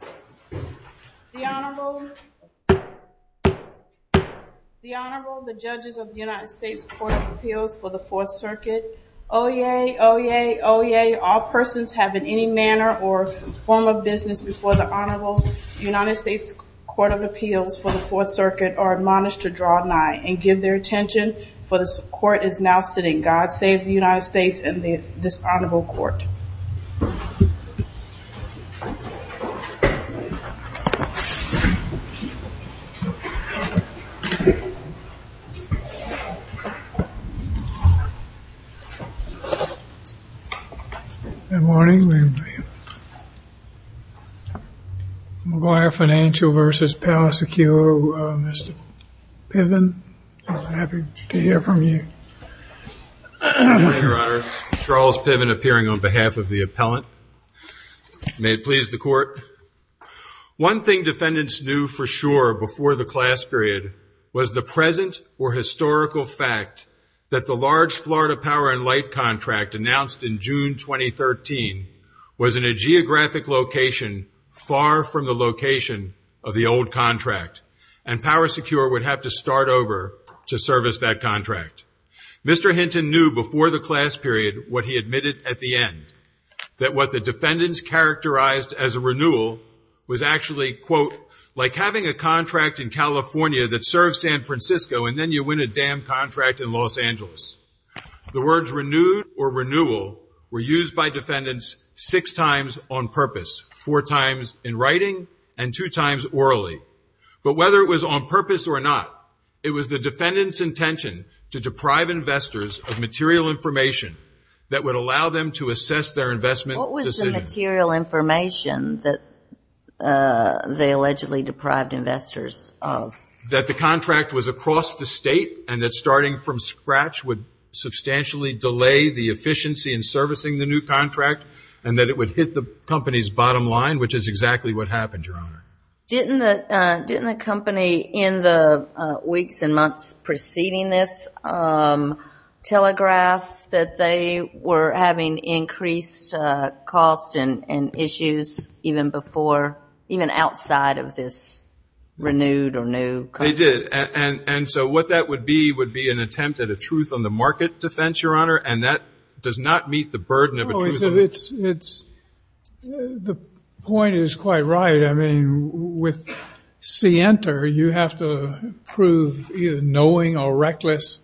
The Honorable, the Judges of the United States Court of Appeals for the Fourth Circuit. Oyez, oyez, oyez, all persons have in any manner or form of business before the Honorable United States Court of Appeals for the Fourth Circuit are admonished to draw nigh and give their attention, for the Court is now sitting. God save the United States and this Honorable Court. Good morning. McGuire Financial v. Powersecure, Mr. Piven, happy to hear from you. Thank you, Your Honor. Charles Piven appearing on behalf of the appellant. May it please the Court. One thing defendants knew for sure before the class period was the present or historical fact that the large Florida Power and Light contract announced in June 2013 was in a geographic location far from the location of the old contract, and Powersecure would have to start over to service that contract. Mr. Hinton knew before the class period what he admitted at the end, that what the defendants characterized as a renewal was actually, quote, like having a contract in California that serves San Francisco and then you win a damn contract in Los Angeles. The words renewed or renewal were used by defendants six times on purpose, four times in writing and two times orally. But whether it was on purpose or not, it was the defendants intention to deprive investors of material information that would allow them to assess their investment decision. What was the material information that they allegedly deprived investors of? That the contract was across the state and that starting from scratch would substantially delay the efficiency in servicing the new contract and that it would hit the company's bottom line, which is exactly what happened, Your Honor. Didn't the company in the weeks and months preceding this telegraph that they were having increased costs and issues even before, even outside of this renewed or new contract? They did. And so what that would be would be an attempt at a truth on the market defense, Your Honor, and that does not meet the burden of a truth on the market. The point is quite right. I mean, with Sienta, you have to prove either knowing or reckless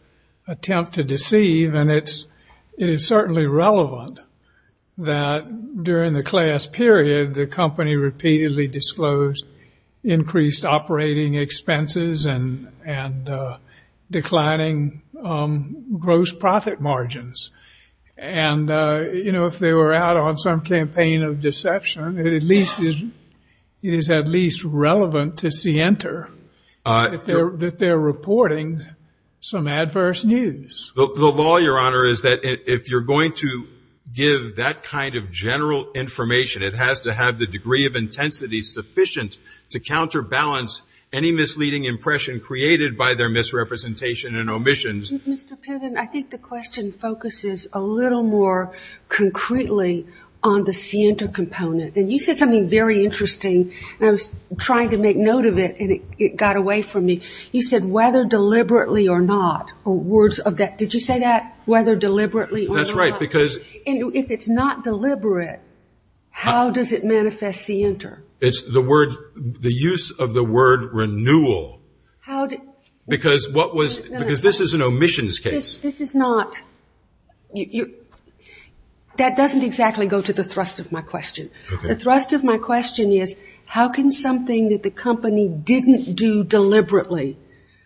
attempt to deceive. And it is certainly relevant that during the class period, the company repeatedly disclosed increased operating expenses and declining gross profit margins. And if they were out on some campaign of deception, it is at least relevant to Sienta that they're reporting some adverse news. The law, Your Honor, is that if you're going to give that kind of general information, it has to have the degree of intensity sufficient to counterbalance any misleading impression created by their misrepresentation and omissions. I think the question focuses a little more concretely on the Sienta component. And you said something very interesting, and I was trying to make note of it, and it got away from me. You said whether deliberately or not, or words of that, did you say that, whether deliberately or not? That's right, because — And if it's not deliberate, how does it manifest Sienta? It's the word, the use of the word renewal. How did — Because what was — because this is an omissions case. This is not — that doesn't exactly go to the thrust of my question. Okay. The thrust of my question is, how can something that the company didn't do deliberately,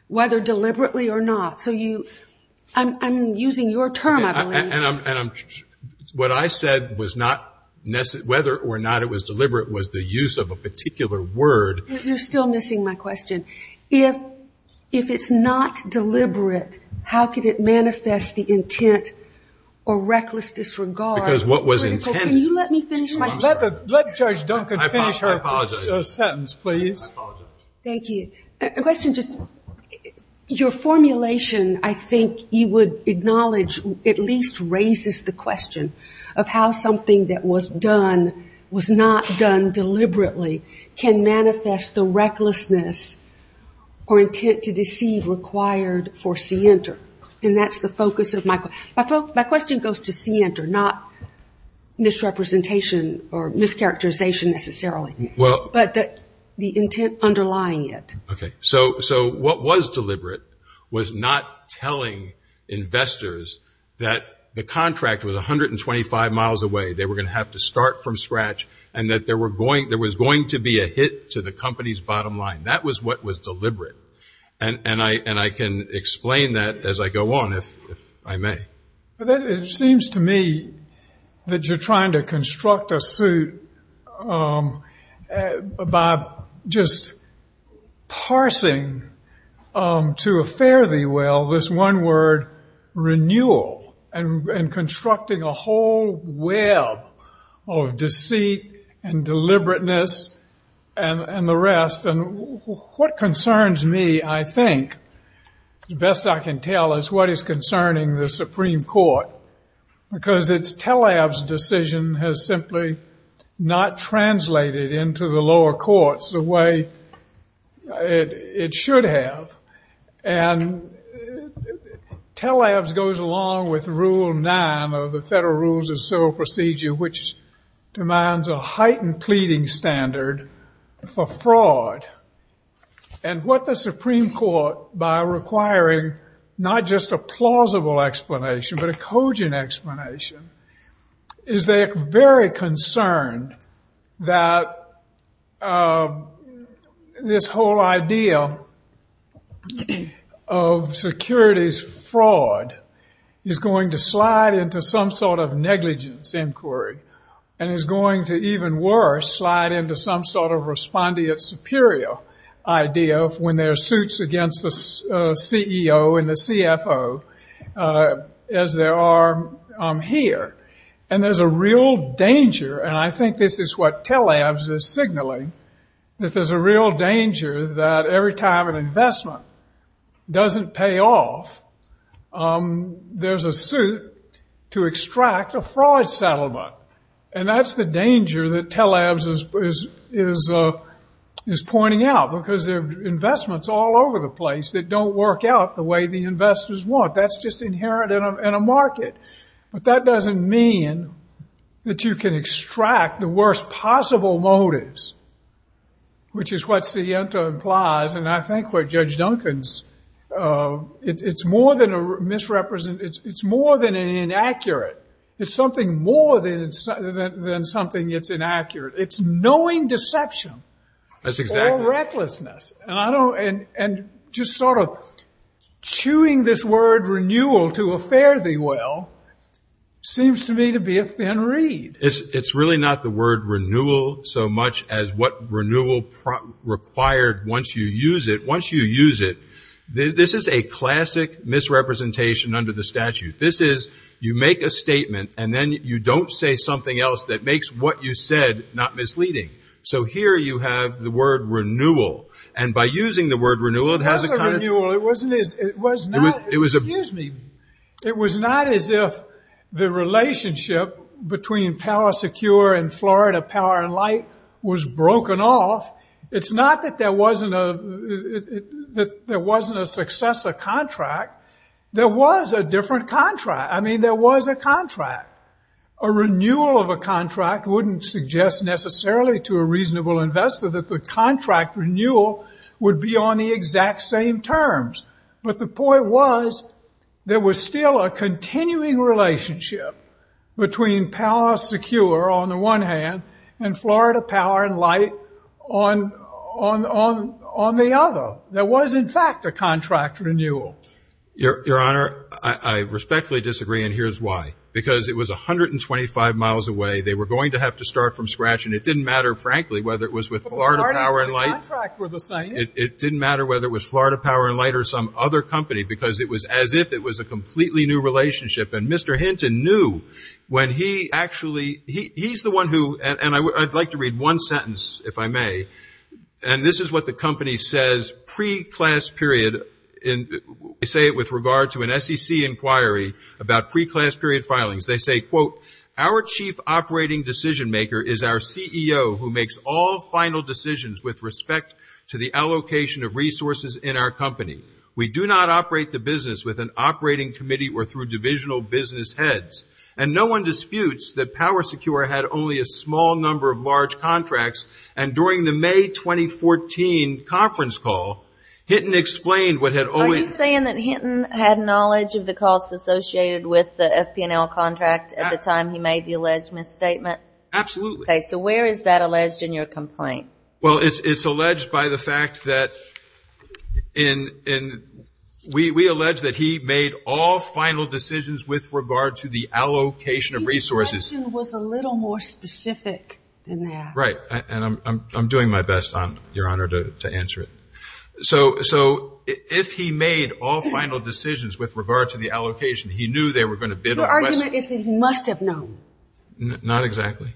whether deliberately or not? So you — I'm using your term, I believe. And I'm — what I said was not — whether or not it was deliberate was the use of a particular word. You're still missing my question. If it's not deliberate, how could it manifest the intent or reckless disregard — Because what was intended — Can you let me finish my question? Let Judge Duncan finish her sentence, please. I apologize. I apologize. Thank you. A question just — your formulation, I think you would acknowledge, at least raises the question of how something that was done, deliberately can manifest the recklessness or intent to deceive required for Sienta. And that's the focus of my — my question goes to Sienta, not misrepresentation or mischaracterization necessarily. Well — But the intent underlying it. Okay. So what was deliberate was not telling investors that the contract was 125 miles away, they were going to have to start from scratch, and that there was going to be a hit to the company's bottom line. That was what was deliberate. And I can explain that as I go on, if I may. It seems to me that you're trying to construct a suit by just parsing to a fare-thee-well this one word, renewal, and constructing a whole web of deceit and deliberateness and the rest. And what concerns me, I think, the best I can tell, is what is concerning the Supreme Court, because it's Taleb's decision has simply not translated into the lower courts the way it should have. And Taleb's goes along with Rule 9 of the Federal Rules of Civil Procedure, which demands a heightened pleading standard for fraud. And what the Supreme Court, by requiring not just a plausible explanation but a cogent explanation, is they are very concerned that this whole idea of securities fraud is going to slide into some sort of negligence inquiry and is going to, even worse, slide into some sort of respondeat superior idea of when there are suits against the CEO and the CFO as there are here. And there's a real danger, and I think this is what Taleb's is signaling, that there's a real danger that every time an investment doesn't pay off, there's a suit to extract a fraud settlement. And that's the danger that Taleb's is pointing out, because there are investments all over the place that don't work out the way the investors want. That's just inherent in a market. But that doesn't mean that you can extract the worst possible motives, which is what Sienta implies, and I think what Judge Duncan's, it's more than an inaccurate. It's something more than something that's inaccurate. It's knowing deception. That's exactly right. Or recklessness. And just sort of chewing this word renewal to a fare-thee-well seems to me to be a thin reed. It's really not the word renewal so much as what renewal required once you use it. Once you use it, this is a classic misrepresentation under the statute. This is you make a statement and then you don't say something else that makes what you said not misleading. So here you have the word renewal. And by using the word renewal, it has a kind of ‑‑ It wasn't a renewal. It was not. Excuse me. It was not as if the relationship between Power Secure and Florida Power & Light was broken off. It's not that there wasn't a successor contract. There was a different contract. I mean, there was a contract. A renewal of a contract wouldn't suggest necessarily to a reasonable investor that the contract renewal would be on the exact same terms. But the point was there was still a continuing relationship between Power Secure on the one hand and Florida Power & Light on the other. There was, in fact, a contract renewal. Your Honor, I respectfully disagree, and here's why. Because it was 125 miles away, they were going to have to start from scratch, and it didn't matter, frankly, whether it was with Florida Power & Light. It didn't matter whether it was Florida Power & Light or some other company because it was as if it was a completely new relationship. And Mr. Hinton knew when he actually ‑‑ he's the one who ‑‑ and I'd like to read one sentence, if I may. And this is what the company says pre‑class period. They say it with regard to an SEC inquiry about pre‑class period filings. They say, quote, Our chief operating decision maker is our CEO who makes all final decisions with respect to the allocation of resources in our company. We do not operate the business with an operating committee or through divisional business heads. And no one disputes that Power Secure had only a small number of large contracts and during the May 2014 conference call, Hinton explained what had only ‑‑ Are you saying that Hinton had knowledge of the costs associated with the FPNL contract at the time he made the alleged misstatement? Absolutely. Okay. So where is that alleged in your complaint? Well, it's alleged by the fact that we allege that he made all final decisions with regard to the allocation of resources. His question was a little more specific than that. Right. And I'm doing my best, Your Honor, to answer it. So if he made all final decisions with regard to the allocation, he knew they were going to bid on ‑‑ Your argument is that he must have known. Not exactly.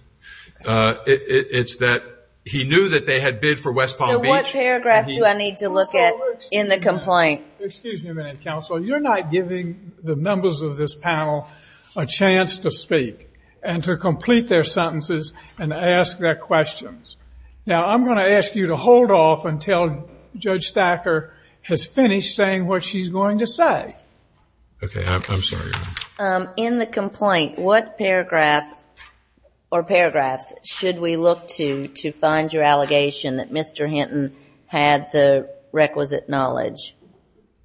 It's that he knew that they had bid for West Palm Beach. So what paragraph do I need to look at in the complaint? Excuse me a minute, counsel. You're not giving the members of this panel a chance to speak and to complete their sentences and ask their questions. Now, I'm going to ask you to hold off until Judge Thacker has finished saying what she's going to say. Okay. I'm sorry, Your Honor. In the complaint, what paragraph or paragraphs should we look to to find your allegation that Mr. Hinton had the requisite knowledge?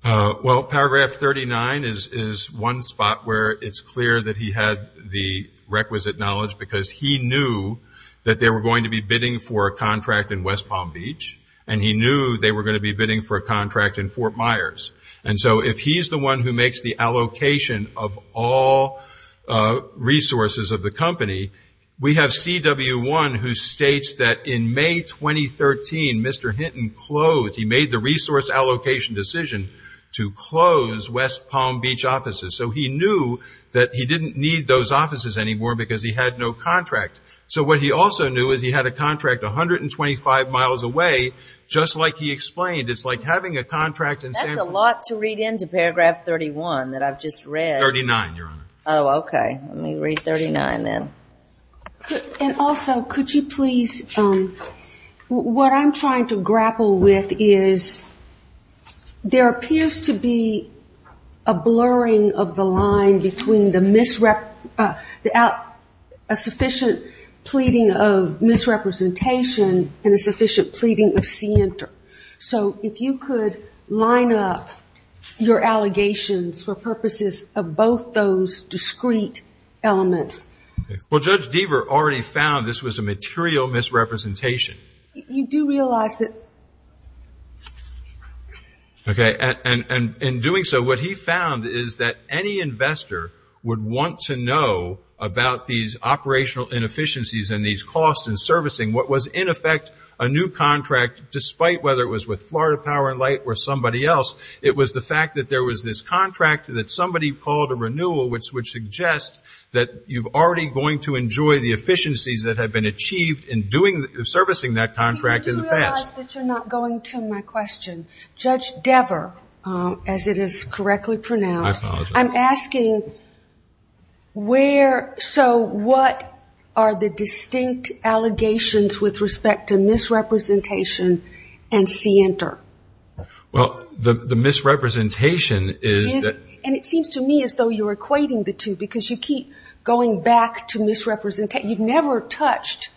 Well, paragraph 39 is one spot where it's clear that he had the requisite knowledge because he knew that they were going to be bidding for a contract in West Palm Beach, and he knew they were going to be bidding for a contract in Fort Myers. And so if he's the one who makes the allocation of all resources of the company, we have CW1 who states that in May 2013, Mr. Hinton closed. He made the resource allocation decision to close West Palm Beach offices. So he knew that he didn't need those offices anymore because he had no contract. So what he also knew is he had a contract 125 miles away, just like he explained. It's like having a contract in San Francisco. That's a lot to read into paragraph 31 that I've just read. Thirty-nine, Your Honor. Oh, okay. Let me read 39 then. And also, could you please, what I'm trying to grapple with is there appears to be a blurring of the line between a sufficient pleading of misrepresentation and a sufficient pleading of scienter. So if you could line up your allegations for purposes of both those discrete elements. Well, Judge Deaver already found this was a material misrepresentation. You do realize that. Okay. And in doing so, what he found is that any investor would want to know about these operational inefficiencies and these costs in servicing what was, in effect, a new contract, despite whether it was with Florida Power and Light or somebody else. It was the fact that there was this contract that somebody called a renewal, which would suggest that you're already going to enjoy the efficiencies that have been achieved in servicing that contract in the past. You do realize that you're not going to my question. Judge Deaver, as it is correctly pronounced. I apologize. I'm asking where, so what are the distinct allegations with respect to misrepresentation and scienter? Well, the misrepresentation is that. And it seems to me as though you're equating the two because you keep going back to misrepresentation. You've never touched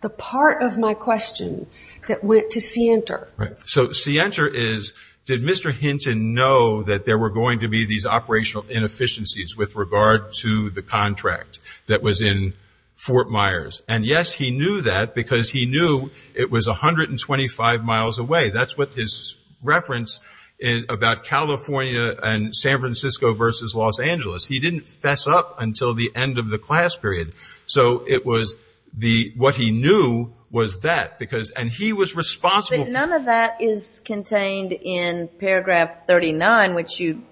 the part of my question that went to scienter. Right. So scienter is, did Mr. Hinton know that there were going to be these operational inefficiencies with regard to the contract that was in Fort Myers? And, yes, he knew that because he knew it was 125 miles away. That's what his reference about California and San Francisco versus Los Angeles. He didn't fess up until the end of the class period. So it was the, what he knew was that because, and he was responsible. But none of that is contained in paragraph 39, which you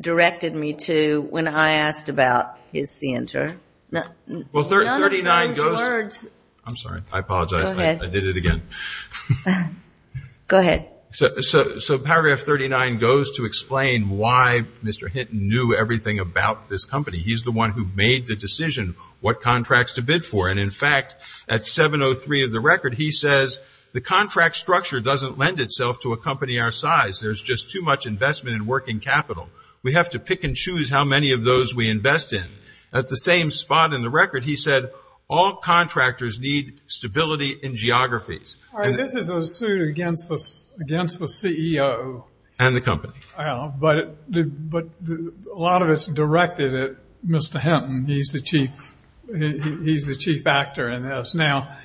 directed me to when I asked about his scienter. Well, 39 goes. None of those words. I'm sorry. I apologize. Go ahead. I did it again. Go ahead. So paragraph 39 goes to explain why Mr. Hinton knew everything about this company. He's the one who made the decision what contracts to bid for. And, in fact, at 703 of the record, he says, the contract structure doesn't lend itself to a company our size. There's just too much investment in working capital. We have to pick and choose how many of those we invest in. At the same spot in the record, he said, all contractors need stability in geographies. This is a suit against the CEO. And the company. But a lot of it's directed at Mr. Hinton. He's the chief actor in this. Now,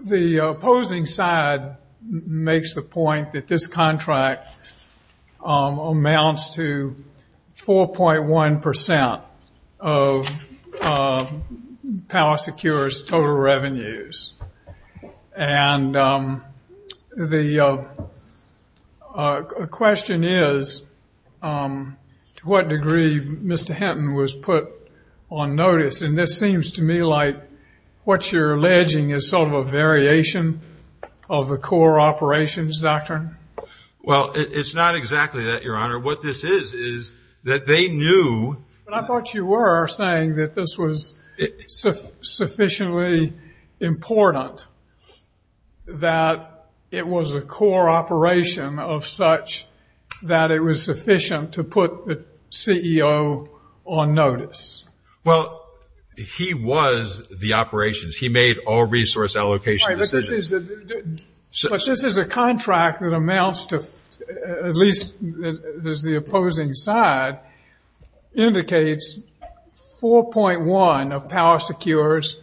the opposing side makes the point that this contract amounts to 4.1% of Power Secure's total revenues. And the question is, to what degree Mr. Hinton was put on notice. And this seems to me like what you're alleging is sort of a variation of the core operations doctrine. Well, it's not exactly that, Your Honor. What this is is that they knew. I thought you were saying that this was sufficiently important that it was a core operation of such that it was sufficient to put the CEO on notice. Well, he was the operations. He made all resource allocation decisions. But this is a contract that amounts to, at least as the opposing side indicates, 4.1% of Power Secure's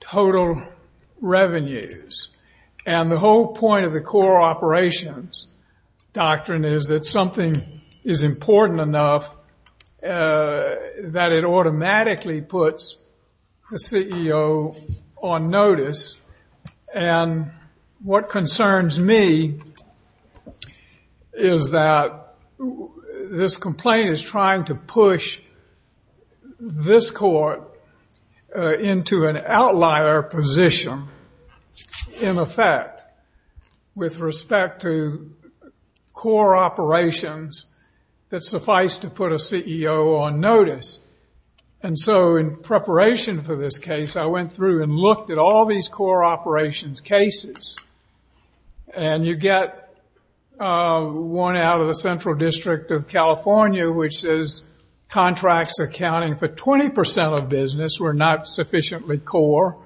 total revenues. And the whole point of the core operations doctrine is that something is important enough that it automatically puts the CEO on notice. And what concerns me is that this complaint is trying to push this court into an outlier position, in effect, with respect to core operations that suffice to put a CEO on notice. And so in preparation for this case, I went through and looked at all these core operations cases. And you get one out of the Central District of California, which says contracts accounting for 20% of business were not sufficiently core.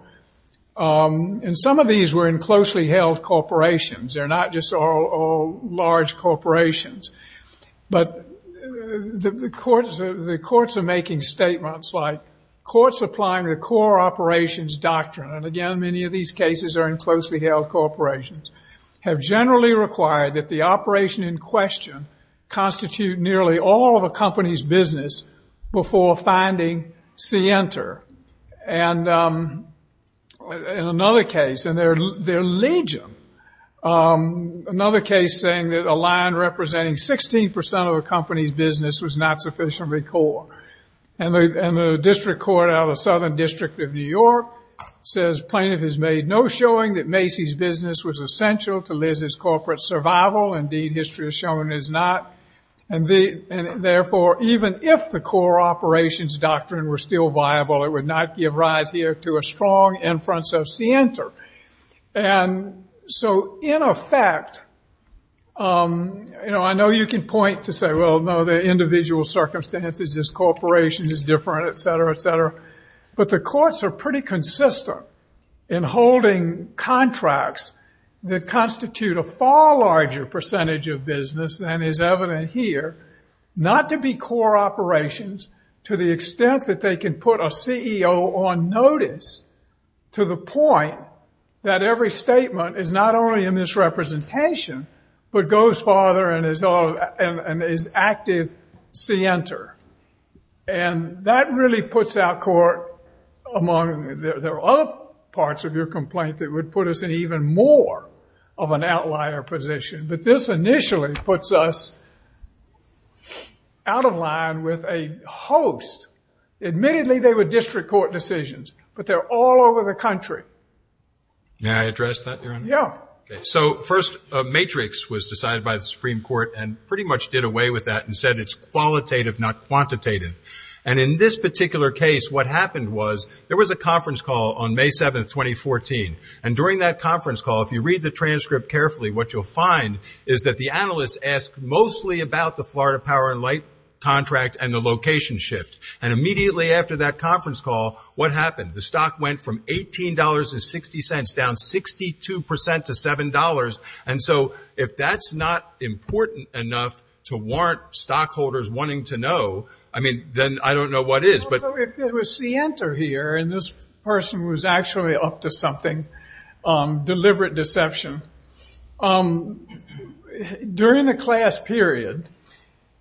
And some of these were in closely held corporations. They're not just all large corporations. But the courts are making statements like courts applying the core operations doctrine, and again, many of these cases are in closely held corporations, have generally required that the operation in question constitute nearly all of a company's business before finding Center. And in another case, in their legion, another case saying that a line representing 16% of a company's business was not sufficiently core. And the district court out of the Southern District of New York says plaintiff has made no showing that Macy's business was essential to Liz's corporate survival. Indeed, history has shown it is not. And therefore, even if the core operations doctrine were still viable, it would not give rise here to a strong inference of Center. And so in effect, you know, I know you can point to say, well, no, the individual circumstances, this corporation is different, et cetera, et cetera. But the courts are pretty consistent in holding contracts that constitute a far larger percentage of business than is evident here, not to be core operations to the extent that they can put a CEO on notice to the point that every statement is not only in this representation, but goes farther and is active Center. And that really puts out court among, there are other parts of your complaint that would put us in even more of an outlier position. But this initially puts us out of line with a host. Admittedly, they were district court decisions, but they're all over the country. May I address that, Your Honor? Yeah. So first, a matrix was decided by the Supreme Court and pretty much did away with that and said it's qualitative, not quantitative. And in this particular case, what happened was there was a conference call on May 7th, 2014. And during that conference call, if you read the transcript carefully, what you'll find is that the analysts asked mostly about the Florida Power and Light contract and the location shift. And immediately after that conference call, what happened? The stock went from $18.60 down 62% to $7. And so if that's not important enough to warrant stockholders wanting to know, I mean, then I don't know what is. Well, so if there was Center here, and this person was actually up to something, deliberate deception. During the class period,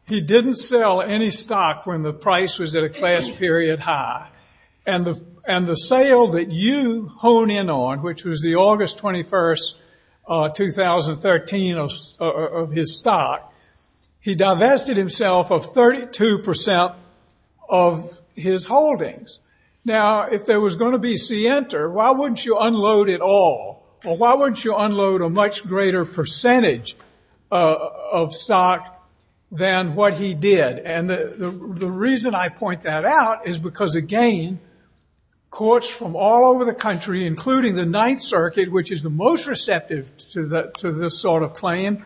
he didn't sell any stock when the price was at a class period high. And the sale that you hone in on, which was the August 21st, 2013 of his stock, he divested himself of 32% of his holdings. Now, if there was going to be Center, why wouldn't you unload it all? Or why wouldn't you unload a much greater percentage of stock than what he did? And the reason I point that out is because, again, courts from all over the country, including the Ninth Circuit, which is the most receptive to this sort of claim,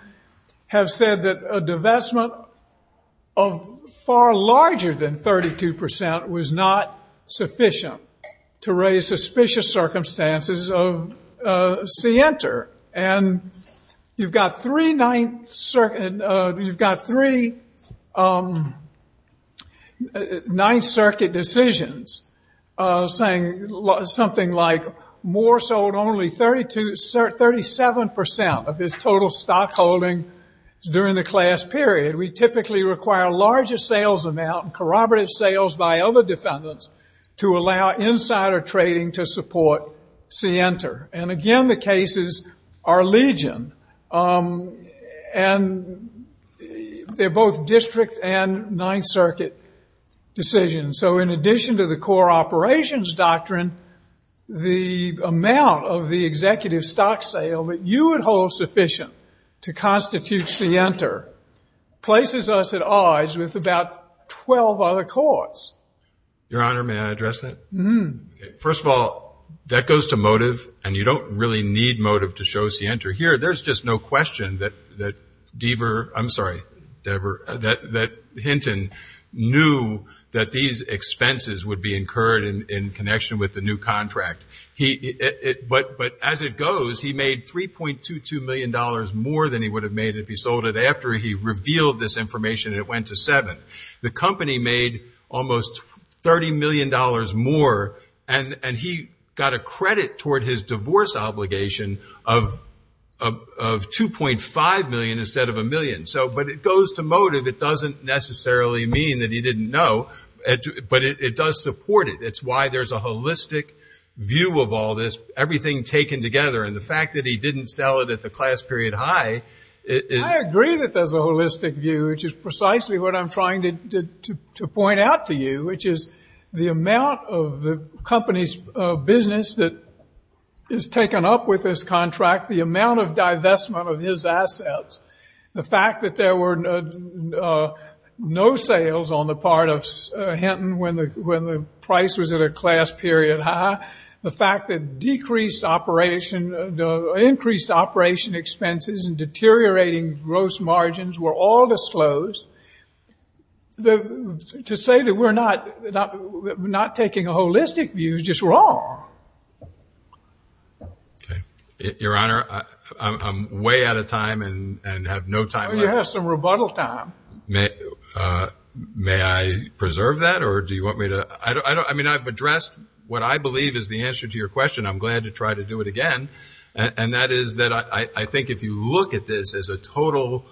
have said that a divestment of far larger than 32% was not sufficient to raise suspicious circumstances of Center. And you've got three Ninth Circuit decisions saying something like Moore sold only 37% of his total stockholding during the class period. We typically require a larger sales amount, corroborative sales by other defendants, to allow insider trading to support Center. And again, the cases are legion. And they're both district and Ninth Circuit decisions. So in addition to the core operations doctrine, the amount of the executive stock sale that you would hold sufficient to constitute Center places us at odds with about 12 other courts. Your Honor, may I address that? Mm-hmm. First of all, that goes to motive. And you don't really need motive to show Center here. There's just no question that Deaver – I'm sorry, Deaver – that Hinton knew that these expenses would be incurred in connection with the new contract. But as it goes, he made $3.22 million more than he would have made if he sold it after he revealed this information, and it went to seven. The company made almost $30 million more, and he got a credit toward his divorce obligation of $2.5 million instead of a million. But it goes to motive. It doesn't necessarily mean that he didn't know, but it does support it. It's why there's a holistic view of all this, everything taken together. And the fact that he didn't sell it at the class period high – to point out to you, which is the amount of the company's business that is taken up with this contract, the amount of divestment of his assets, the fact that there were no sales on the part of Hinton when the price was at a class period high, the fact that decreased operation – increased operation expenses and deteriorating gross margins were all disclosed, to say that we're not taking a holistic view is just wrong. Your Honor, I'm way out of time and have no time left. You have some rebuttal time. May I preserve that, or do you want me to – I mean, I've addressed what I believe is the answer to your question. I'm glad to try to do it again, and that is that I think if you look at this as a total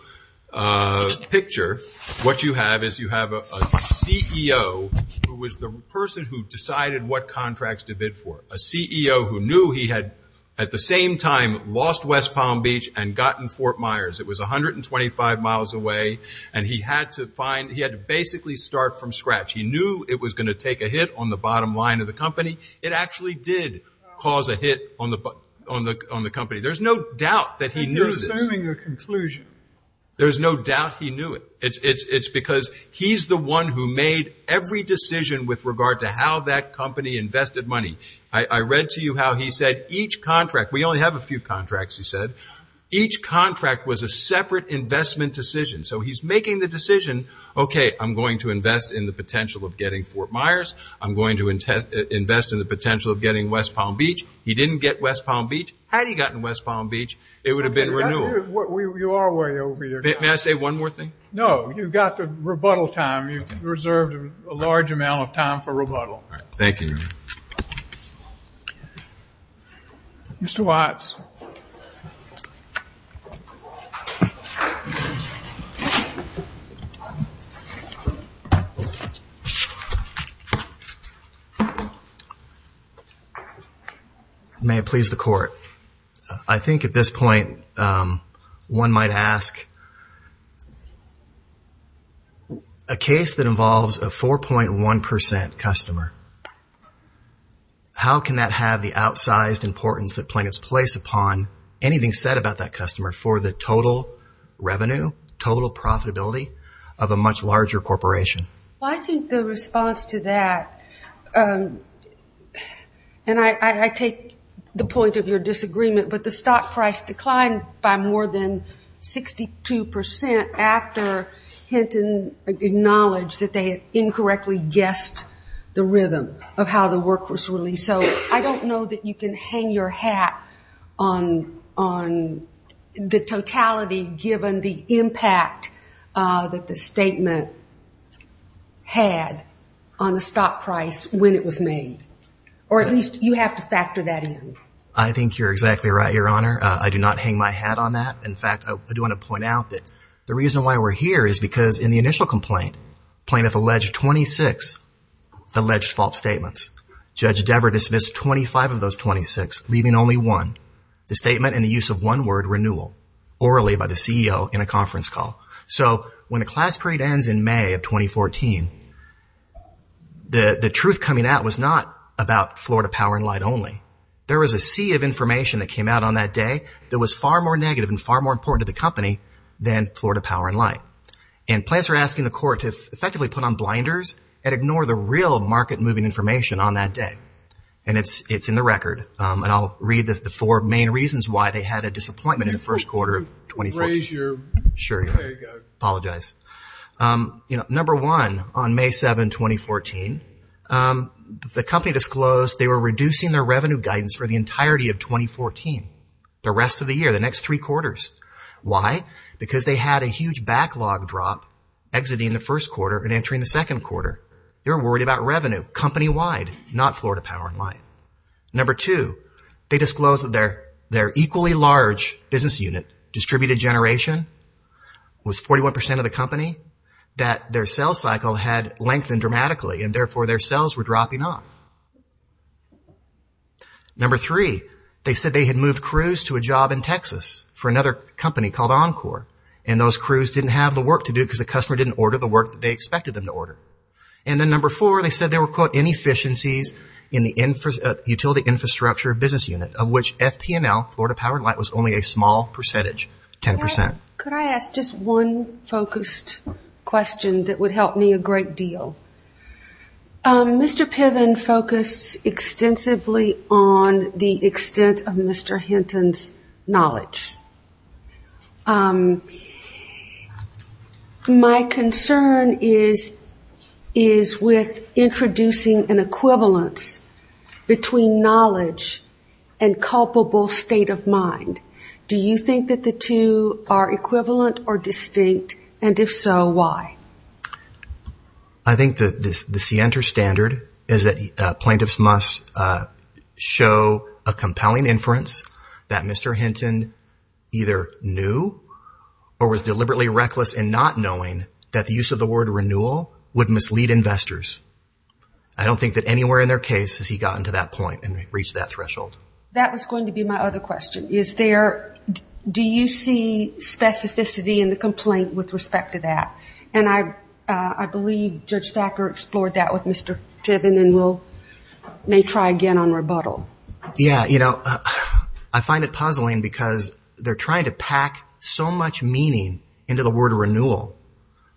picture, what you have is you have a CEO who is the person who decided what contracts to bid for, a CEO who knew he had at the same time lost West Palm Beach and gotten Fort Myers. It was 125 miles away, and he had to find – he had to basically start from scratch. He knew it was going to take a hit on the bottom line of the company. It actually did cause a hit on the company. There's no doubt that he knew this. You're assuming a conclusion. There's no doubt he knew it. It's because he's the one who made every decision with regard to how that company invested money. I read to you how he said each contract – we only have a few contracts, he said. Each contract was a separate investment decision, so he's making the decision, okay, I'm going to invest in the potential of getting Fort Myers. I'm going to invest in the potential of getting West Palm Beach. He didn't get West Palm Beach. Had he gotten West Palm Beach, it would have been renewal. You are way over your time. May I say one more thing? No, you've got the rebuttal time. You've reserved a large amount of time for rebuttal. Thank you. Mr. Watts. May it please the Court, I think at this point one might ask, a case that involves a 4.1% customer, how can that have the outsized importance that plaintiffs place upon anything said about that customer for the total revenue, total profitability of a much larger corporation? I think the response to that, and I take the point of your disagreement, but the stock price declined by more than 62% after Hinton acknowledged that they had incorrectly guessed the rhythm of how the work was released. So I don't know that you can hang your hat on the totality, given the impact that the statement had on the stock price when it was made, or at least you have to factor that in. I think you're exactly right, Your Honor. I do not hang my hat on that. In fact, I do want to point out that the reason why we're here is because in the initial complaint, plaintiff alleged 26 alleged fault statements. Judge Dever dismissed 25 of those 26, leaving only one, the statement in the use of one word, renewal, orally by the CEO in a conference call. So when the class parade ends in May of 2014, the truth coming out was not about Florida Power and Light only. There was a sea of information that came out on that day that was far more negative and far more important to the company than Florida Power and Light. And plaintiffs are asking the court to effectively put on blinders and ignore the real market-moving information on that day. And it's in the record. And I'll read the four main reasons why they had a disappointment in the first quarter of 2014. Raise your hand. Sure. There you go. Apologize. Number one, on May 7, 2014, the company disclosed they were reducing their revenue guidance for the entirety of 2014, the rest of the year, the next three quarters. Why? Because they had a huge backlog drop exiting the first quarter and entering the second quarter. They were worried about revenue, company-wide, not Florida Power and Light. Number two, they disclosed that their equally large business unit, distributed generation, was 41 percent of the company, that their sale cycle had lengthened dramatically and, therefore, their sales were dropping off. Number three, they said they had moved crews to a job in Texas for another company called Encore, and those crews didn't have the work to do because the customer didn't order the work they expected them to order. And then number four, they said there were, quote, inefficiencies in the utility infrastructure business unit, of which FP&L, Florida Power and Light, was only a small percentage, 10 percent. Could I ask just one focused question that would help me a great deal? Mr. Piven focused extensively on the extent of Mr. Hinton's knowledge. My concern is with introducing an equivalence between knowledge and culpable state of mind. Do you think that the two are equivalent or distinct, and if so, why? I think that the standard is that plaintiffs must show a compelling inference that Mr. Hinton either knew or was deliberately reckless in not knowing that the use of the word renewal would mislead investors. I don't think that anywhere in their case has he gotten to that point and reached that threshold. That was going to be my other question. Do you see specificity in the complaint with respect to that? And I believe Judge Thacker explored that with Mr. Piven and may try again on rebuttal. I find it puzzling because they're trying to pack so much meaning into the word renewal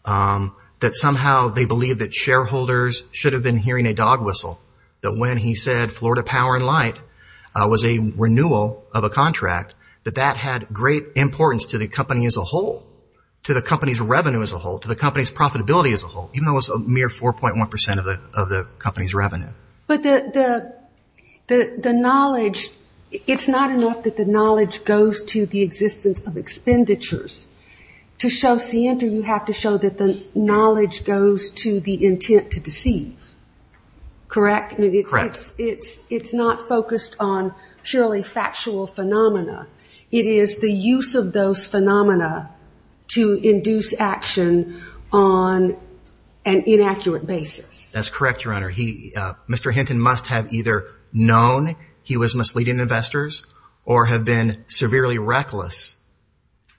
that somehow they believe that shareholders should have been hearing a dog whistle that when he said Florida Power and Light was a renewal of a contract, that that had great importance to the company as a whole, to the company's revenue as a whole, to the company's profitability as a whole, even though it was a mere 4.1 percent of the company's revenue. But the knowledge, it's not enough that the knowledge goes to the existence of expenditures. To show scienter, you have to show that the knowledge goes to the intent to deceive, correct? Correct. It's not focused on purely factual phenomena. It is the use of those phenomena to induce action on an inaccurate basis. That's correct, Your Honor. Mr. Hinton must have either known he was misleading investors or have been severely reckless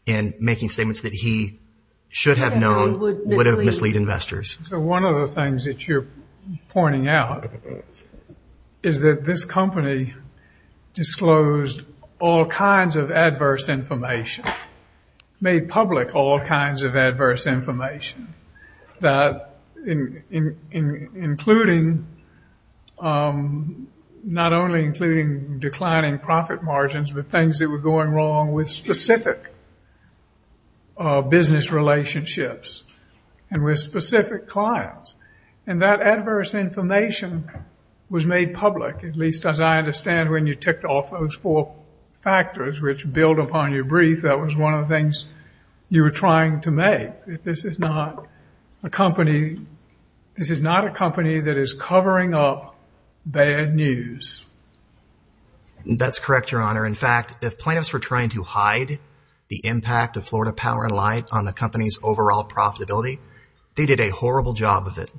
in making statements that he should have known would have mislead investors. So one of the things that you're pointing out is that this company disclosed all kinds of adverse information, made public all kinds of adverse information, including not only declining profit margins, but things that were going wrong with specific business relationships and with specific clients. And that adverse information was made public, at least as I understand when you ticked off those four factors which build upon your brief, that was one of the things you were trying to make. This is not a company that is covering up bad news. That's correct, Your Honor. In fact, if plaintiffs were trying to hide the impact of Florida Power & Light on the company's overall profitability, they did a horrible job of it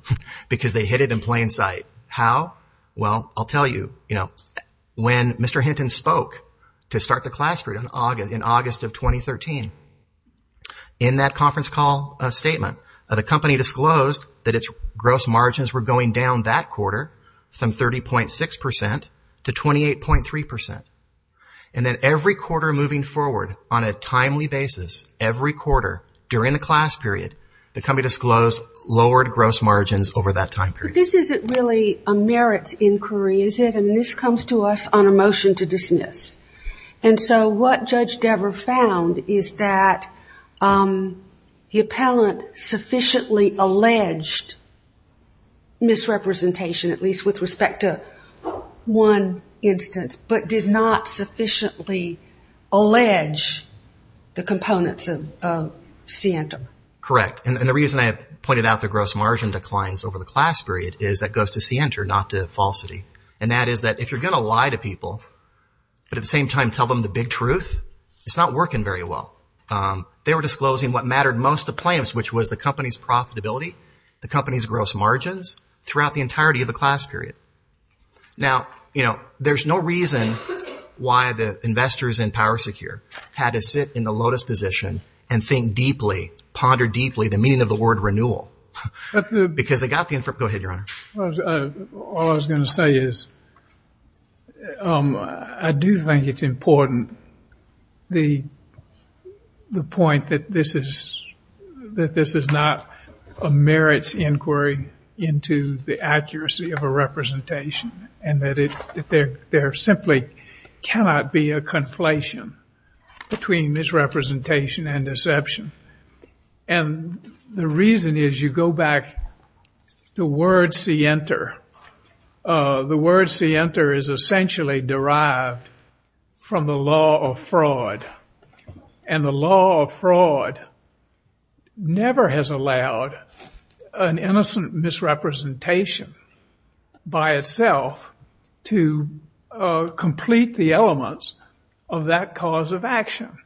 because they hid it in plain sight. How? Well, I'll tell you. When Mr. Hinton spoke to start the class period in August of 2013, in that conference call statement, the company disclosed that its gross margins were going down that quarter from 30.6% to 28.3%. And then every quarter moving forward on a timely basis, every quarter during the class period, the company disclosed lowered gross margins over that time period. But this isn't really a merits inquiry, is it? And this comes to us on a motion to dismiss. And so what Judge Dever found is that the appellant sufficiently alleged misrepresentation, at least with respect to one instance, but did not sufficiently allege the components of C&M. Correct. And the reason I pointed out the gross margin declines over the class period is that goes to C-enter, not to falsity. And that is that if you're going to lie to people, but at the same time tell them the big truth, it's not working very well. They were disclosing what mattered most to plaintiffs, which was the company's profitability, the company's gross margins, throughout the entirety of the class period. Now, you know, there's no reason why the investors in Power Secure had to sit in the lotus position and think deeply, ponder deeply, the meaning of the word renewal. Because they got the information. Go ahead, Your Honor. All I was going to say is I do think it's important, the point that this is not a merits inquiry into the accuracy of a representation and that there simply cannot be a conflation between misrepresentation and deception. And the reason is you go back to word C-enter. The word C-enter is essentially derived from the law of fraud. And the law of fraud never has allowed an innocent misrepresentation by itself to complete the elements of that cause of action.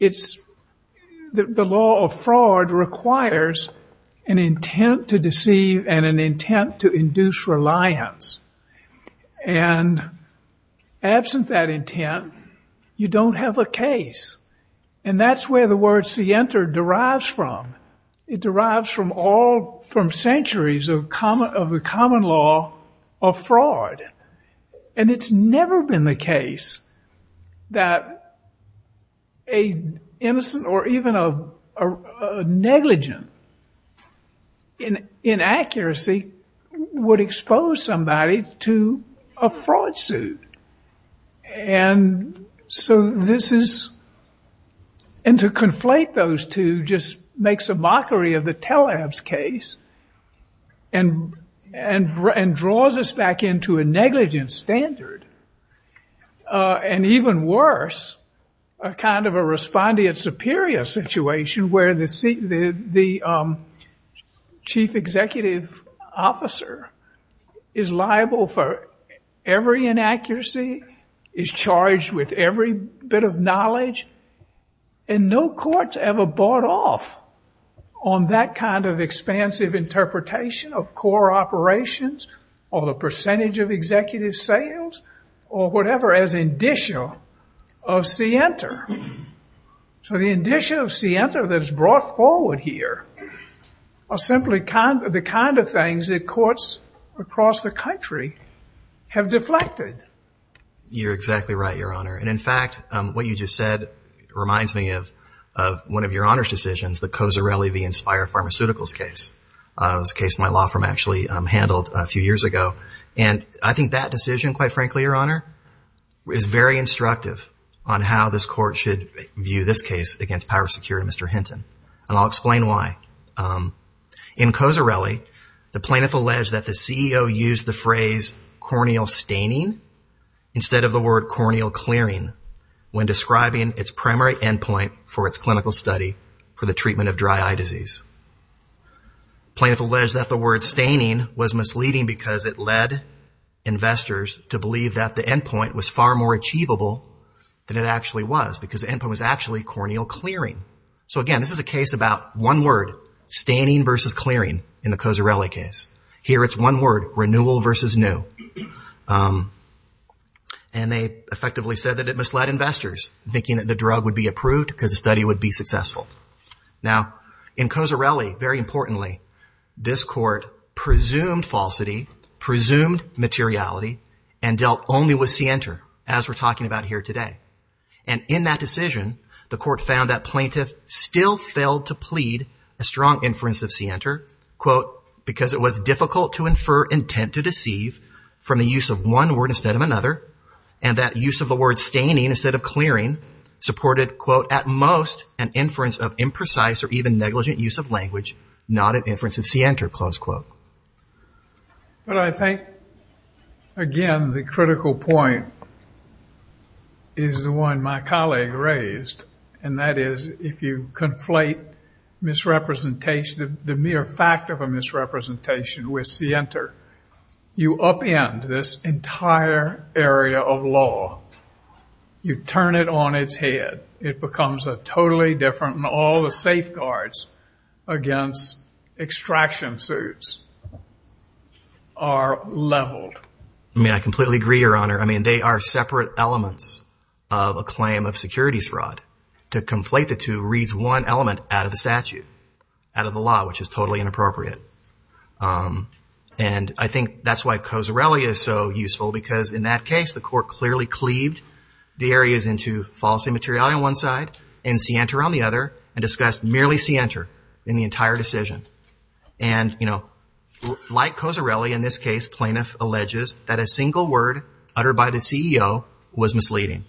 The law of fraud requires an intent to deceive and an intent to induce reliance. And absent that intent, you don't have a case. And that's where the word C-enter derives from. It derives from centuries of the common law of fraud. And it's never been the case that an innocent or even a negligent inaccuracy would expose somebody to a fraud suit. And so this is, and to conflate those two just makes a mockery of the telehab's case and draws us back into a negligent standard. And even worse, a kind of a respondeat superior situation where the chief executive officer is liable for every inaccuracy, is charged with every bit of knowledge, and no court's ever bought off on that kind of expansive interpretation of core operations or the percentage of executive sales or whatever as indicia of C-enter. So the indicia of C-enter that's brought forward here are simply the kind of things that courts across the country have deflected. You're exactly right, Your Honor. And in fact, what you just said reminds me of one of Your Honor's decisions, the Cozzarelli v. Inspire Pharmaceuticals case. It was a case my law firm actually handled a few years ago. And I think that decision, quite frankly, Your Honor, is very instructive on how this court should view this case against power of security of Mr. Hinton. And I'll explain why. In Cozzarelli, the plaintiff alleged that the CEO used the phrase corneal staining instead of the word corneal clearing when describing its primary end point for its clinical study for the treatment of dry eye disease. The plaintiff alleged that the word staining was misleading because it led investors to believe that the end point was far more achievable than it actually was, because the end point was actually corneal clearing. So again, this is a case about one word, staining versus clearing in the Cozzarelli case. Here it's one word, renewal versus new. And they effectively said that it misled investors, thinking that the drug would be approved because the study would be successful. Now, in Cozzarelli, very importantly, this court presumed falsity, presumed materiality, and dealt only with Sienter, as we're talking about here today. And in that decision, the court found that plaintiff still failed to plead a strong inference of Sienter, quote, because it was difficult to infer intent to deceive from the use of one word instead of another. And that use of the word staining instead of clearing supported, quote, at most an inference of imprecise or even negligent use of language, not an inference of Sienter, close quote. But I think, again, the critical point is the one my colleague raised, and that is if you conflate misrepresentation, the mere fact of a misrepresentation with Sienter, you upend this entire area of law. You turn it on its head. It becomes a totally different, and all the safeguards against extraction suits are leveled. I mean, I completely agree, Your Honor. I mean, they are separate elements of a claim of securities fraud. To conflate the two reads one element out of the statute, out of the law, which is totally inappropriate. And I think that's why Cozzarelli is so useful, because in that case, the court clearly cleaved the areas into false immateriality on one side and Sienter on the other and discussed merely Sienter in the entire decision. And, you know, like Cozzarelli in this case, plaintiff alleges that a single word uttered by the CEO was misleading.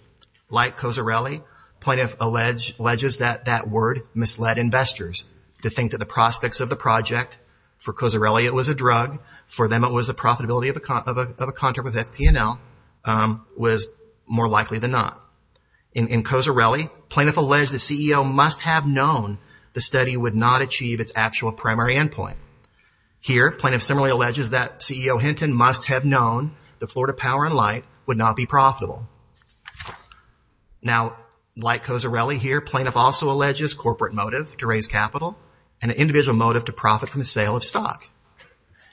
Like Cozzarelli, plaintiff alleges that that word misled investors to think that the prospects of the project for Cozzarelli it was a drug, for them it was the profitability of a contract with FP&L, was more likely than not. In Cozzarelli, plaintiff alleged the CEO must have known the study would not achieve its actual primary endpoint. Here, plaintiff similarly alleges that CEO Hinton must have known the Florida Power and Light would not be profitable. Now, like Cozzarelli here, plaintiff also alleges corporate motive to raise capital and an individual motive to profit from the sale of stock.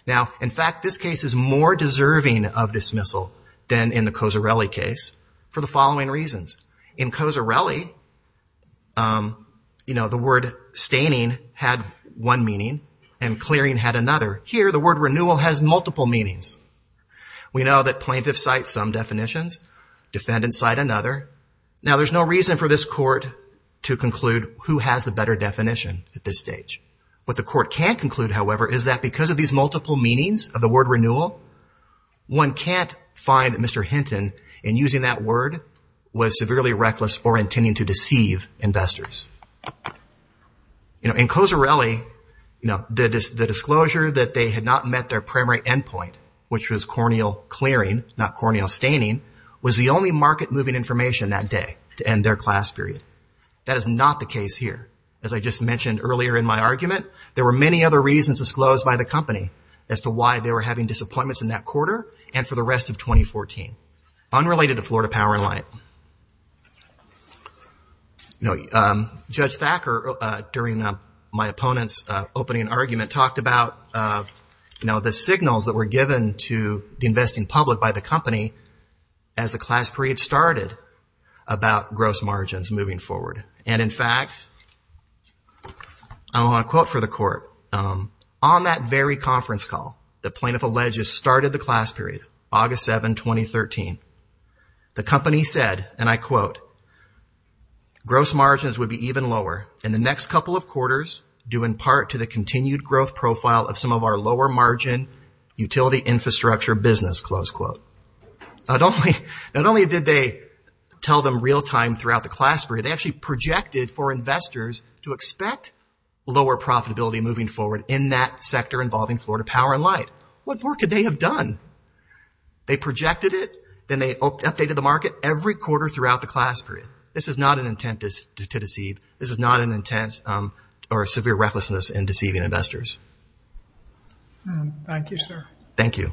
Now, in fact, this case is more deserving of dismissal than in the Cozzarelli case for the following reasons. In Cozzarelli, you know, the word staining had one meaning and clearing had another. Here, the word renewal has multiple meanings. We know that plaintiff cites some definitions, defendants cite another. Now, there's no reason for this court to conclude who has the better definition at this stage. What the court can conclude, however, is that because of these multiple meanings of the word renewal, one can't find Mr. Hinton in using that word was severely reckless or intending to deceive investors. In Cozzarelli, the disclosure that they had not met their primary endpoint, which was corneal clearing, not corneal staining, was the only market-moving information that day to end their class period. That is not the case here. As I just mentioned earlier in my argument, there were many other reasons disclosed by the company as to why they were having disappointments in that quarter and for the rest of 2014, unrelated to Florida Power and Light. Judge Thacker, during my opponent's opening argument, talked about the signals that were given to the investing public by the company as the class period started about gross margins moving forward. And in fact, I want to quote for the court. On that very conference call, the plaintiff alleges started the class period, August 7, 2013. The company said, and I quote, gross margins would be even lower in the next couple of quarters due in part to the continued growth profile of some of our lower margin utility infrastructure business, close quote. Not only did they tell them real time throughout the class period, they actually projected for investors to expect lower profitability moving forward in that sector involving Florida Power and Light. What more could they have done? They projected it. Then they updated the market every quarter throughout the class period. This is not an intent to deceive. This is not an intent or severe recklessness in deceiving investors. Thank you, sir. Thank you.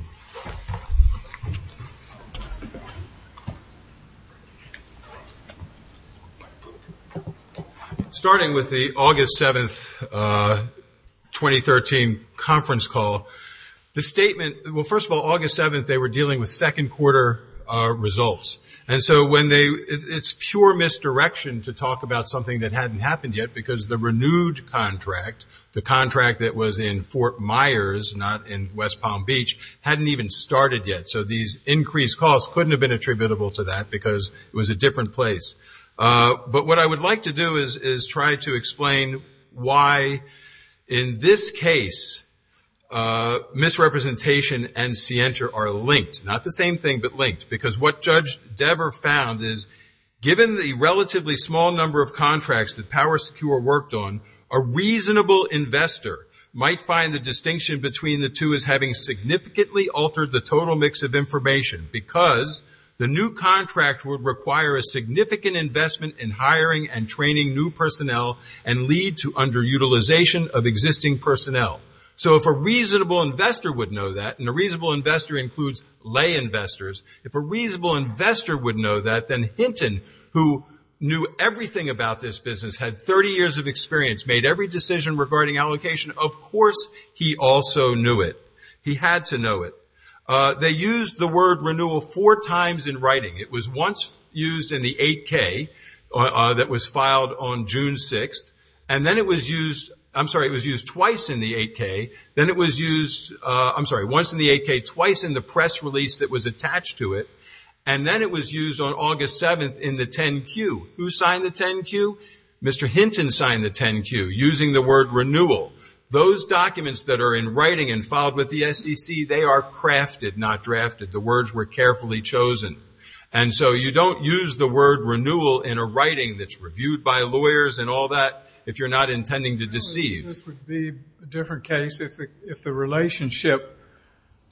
Starting with the August 7, 2013, conference call, the statement, well, first of all, August 7, they were dealing with second quarter results. And so when they, it's pure misdirection to talk about something that hadn't happened yet because the renewed contract, the contract that was in Fort Myers, not in West Palm Beach, hadn't even started yet. So these increased costs couldn't have been attributable to that because it was a different place. But what I would like to do is try to explain why in this case misrepresentation and scienter are linked. Not the same thing, but linked. Because what Judge Dever found is given the relatively small number of contracts that Power Secure worked on, a reasonable investor might find the distinction between the two as having significantly altered the total mix of information. Because the new contract would require a significant investment in hiring and training new personnel and lead to underutilization of existing personnel. So if a reasonable investor would know that, and a reasonable investor includes lay investors, if a reasonable investor would know that, then Hinton, who knew everything about this business, had 30 years of experience, made every decision regarding allocation, of course he also knew it. He had to know it. They used the word renewal four times in writing. It was once used in the 8K that was filed on June 6th. And then it was used, I'm sorry, it was used twice in the 8K. Then it was used, I'm sorry, once in the 8K, twice in the press release that was attached to it. And then it was used on August 7th in the 10Q. Who signed the 10Q? Mr. Hinton signed the 10Q using the word renewal. Those documents that are in writing and filed with the SEC, they are crafted, not drafted. The words were carefully chosen. And so you don't use the word renewal in a writing that's reviewed by lawyers and all that if you're not intending to deceive. This would be a different case if the relationship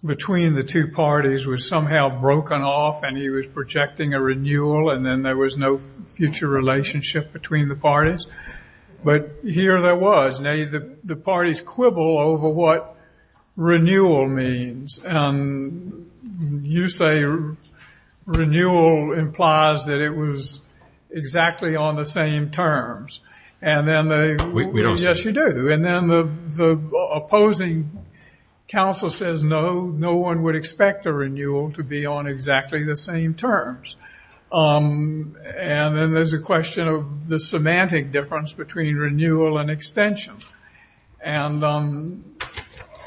between the two parties was somehow broken off and he was projecting a renewal and then there was no future relationship between the parties. But here there was. Now the parties quibble over what renewal means. And you say renewal implies that it was exactly on the same terms. And then they, yes you do. And then the opposing counsel says no, no one would expect a renewal to be on exactly the same terms. And then there's a question of the semantic difference between renewal and extension and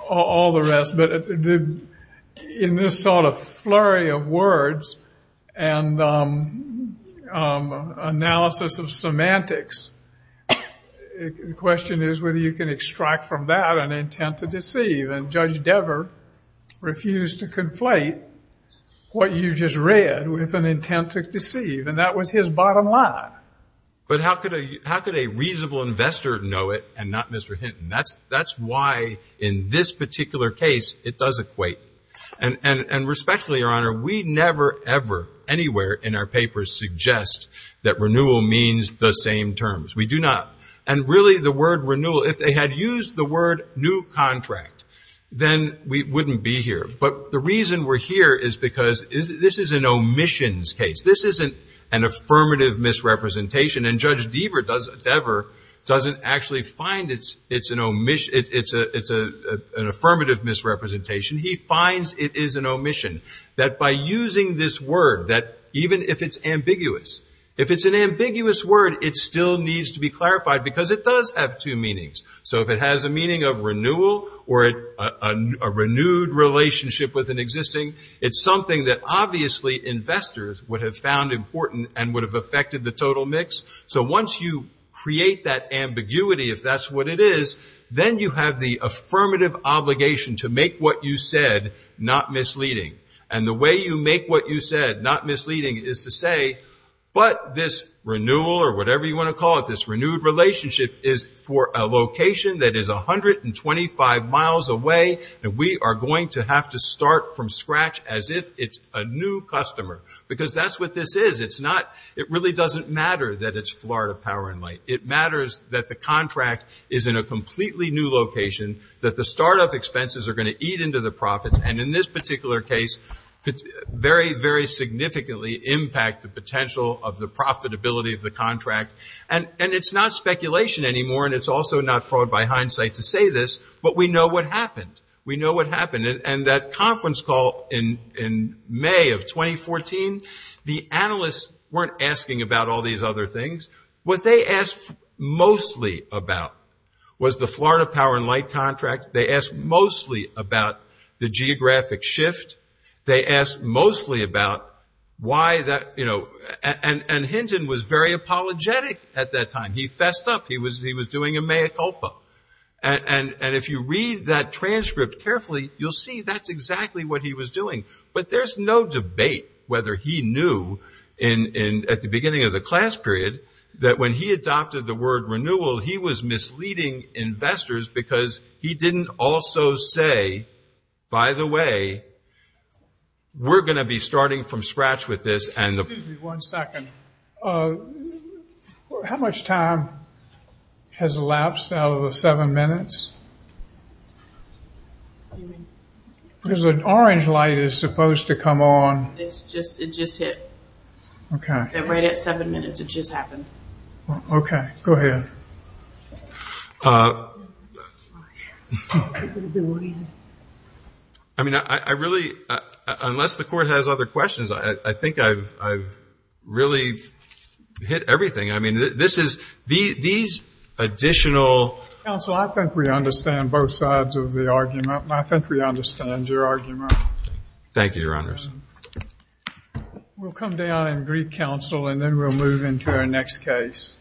all the rest. But in this sort of flurry of words and analysis of semantics, the question is whether you can extract from that an intent to deceive. And Judge Dever refused to conflate what you just read with an intent to deceive. And that was his bottom line. But how could a reasonable investor know it and not Mr. Hinton? That's why in this particular case it does equate. And respectfully, Your Honor, we never ever anywhere in our papers suggest that renewal means the same terms. We do not. And really the word renewal, if they had used the word new contract, then we wouldn't be here. But the reason we're here is because this is an omissions case. This isn't an affirmative misrepresentation. And Judge Dever doesn't actually find it's an affirmative misrepresentation. He finds it is an omission. That by using this word, that even if it's ambiguous, if it's an ambiguous word, it still needs to be clarified because it does have two meanings. So if it has a meaning of renewal or a renewed relationship with an existing, it's something that obviously investors would have found important and would have affected the total mix. So once you create that ambiguity, if that's what it is, then you have the affirmative obligation to make what you said not misleading. And the way you make what you said not misleading is to say, but this renewal or whatever you want to call it, this renewed relationship is for a location that is 125 miles away and we are going to have to start from scratch as if it's a new customer. Because that's what this is. It really doesn't matter that it's Florida Power & Light. It matters that the contract is in a completely new location, that the startup expenses are going to eat into the profits. And in this particular case, very, very significantly impact the potential of the profitability of the contract. And it's not speculation anymore and it's also not fraud by hindsight to say this, but we know what happened. We know what happened. And that conference call in May of 2014, the analysts weren't asking about all these other things. What they asked mostly about was the Florida Power & Light contract. They asked mostly about the geographic shift. They asked mostly about why that, you know, and Hinton was very apologetic at that time. He fessed up. He was doing a mea culpa. And if you read that transcript carefully, you'll see that's exactly what he was doing. But there's no debate whether he knew at the beginning of the class period that when he adopted the word renewal, he was misleading investors because he didn't also say, by the way, we're going to be starting from scratch with this. Excuse me one second. How much time has elapsed out of the seven minutes? The orange light is supposed to come on. It just hit. Okay. Right at seven minutes it just happened. Okay. Go ahead. I mean, I really, unless the Court has other questions, I think I've really hit everything. I mean, this is, these additional. Counsel, I think we understand both sides of the argument, and I think we understand your argument. Thank you, Your Honors. We'll come down and brief counsel and then we'll move into our next case.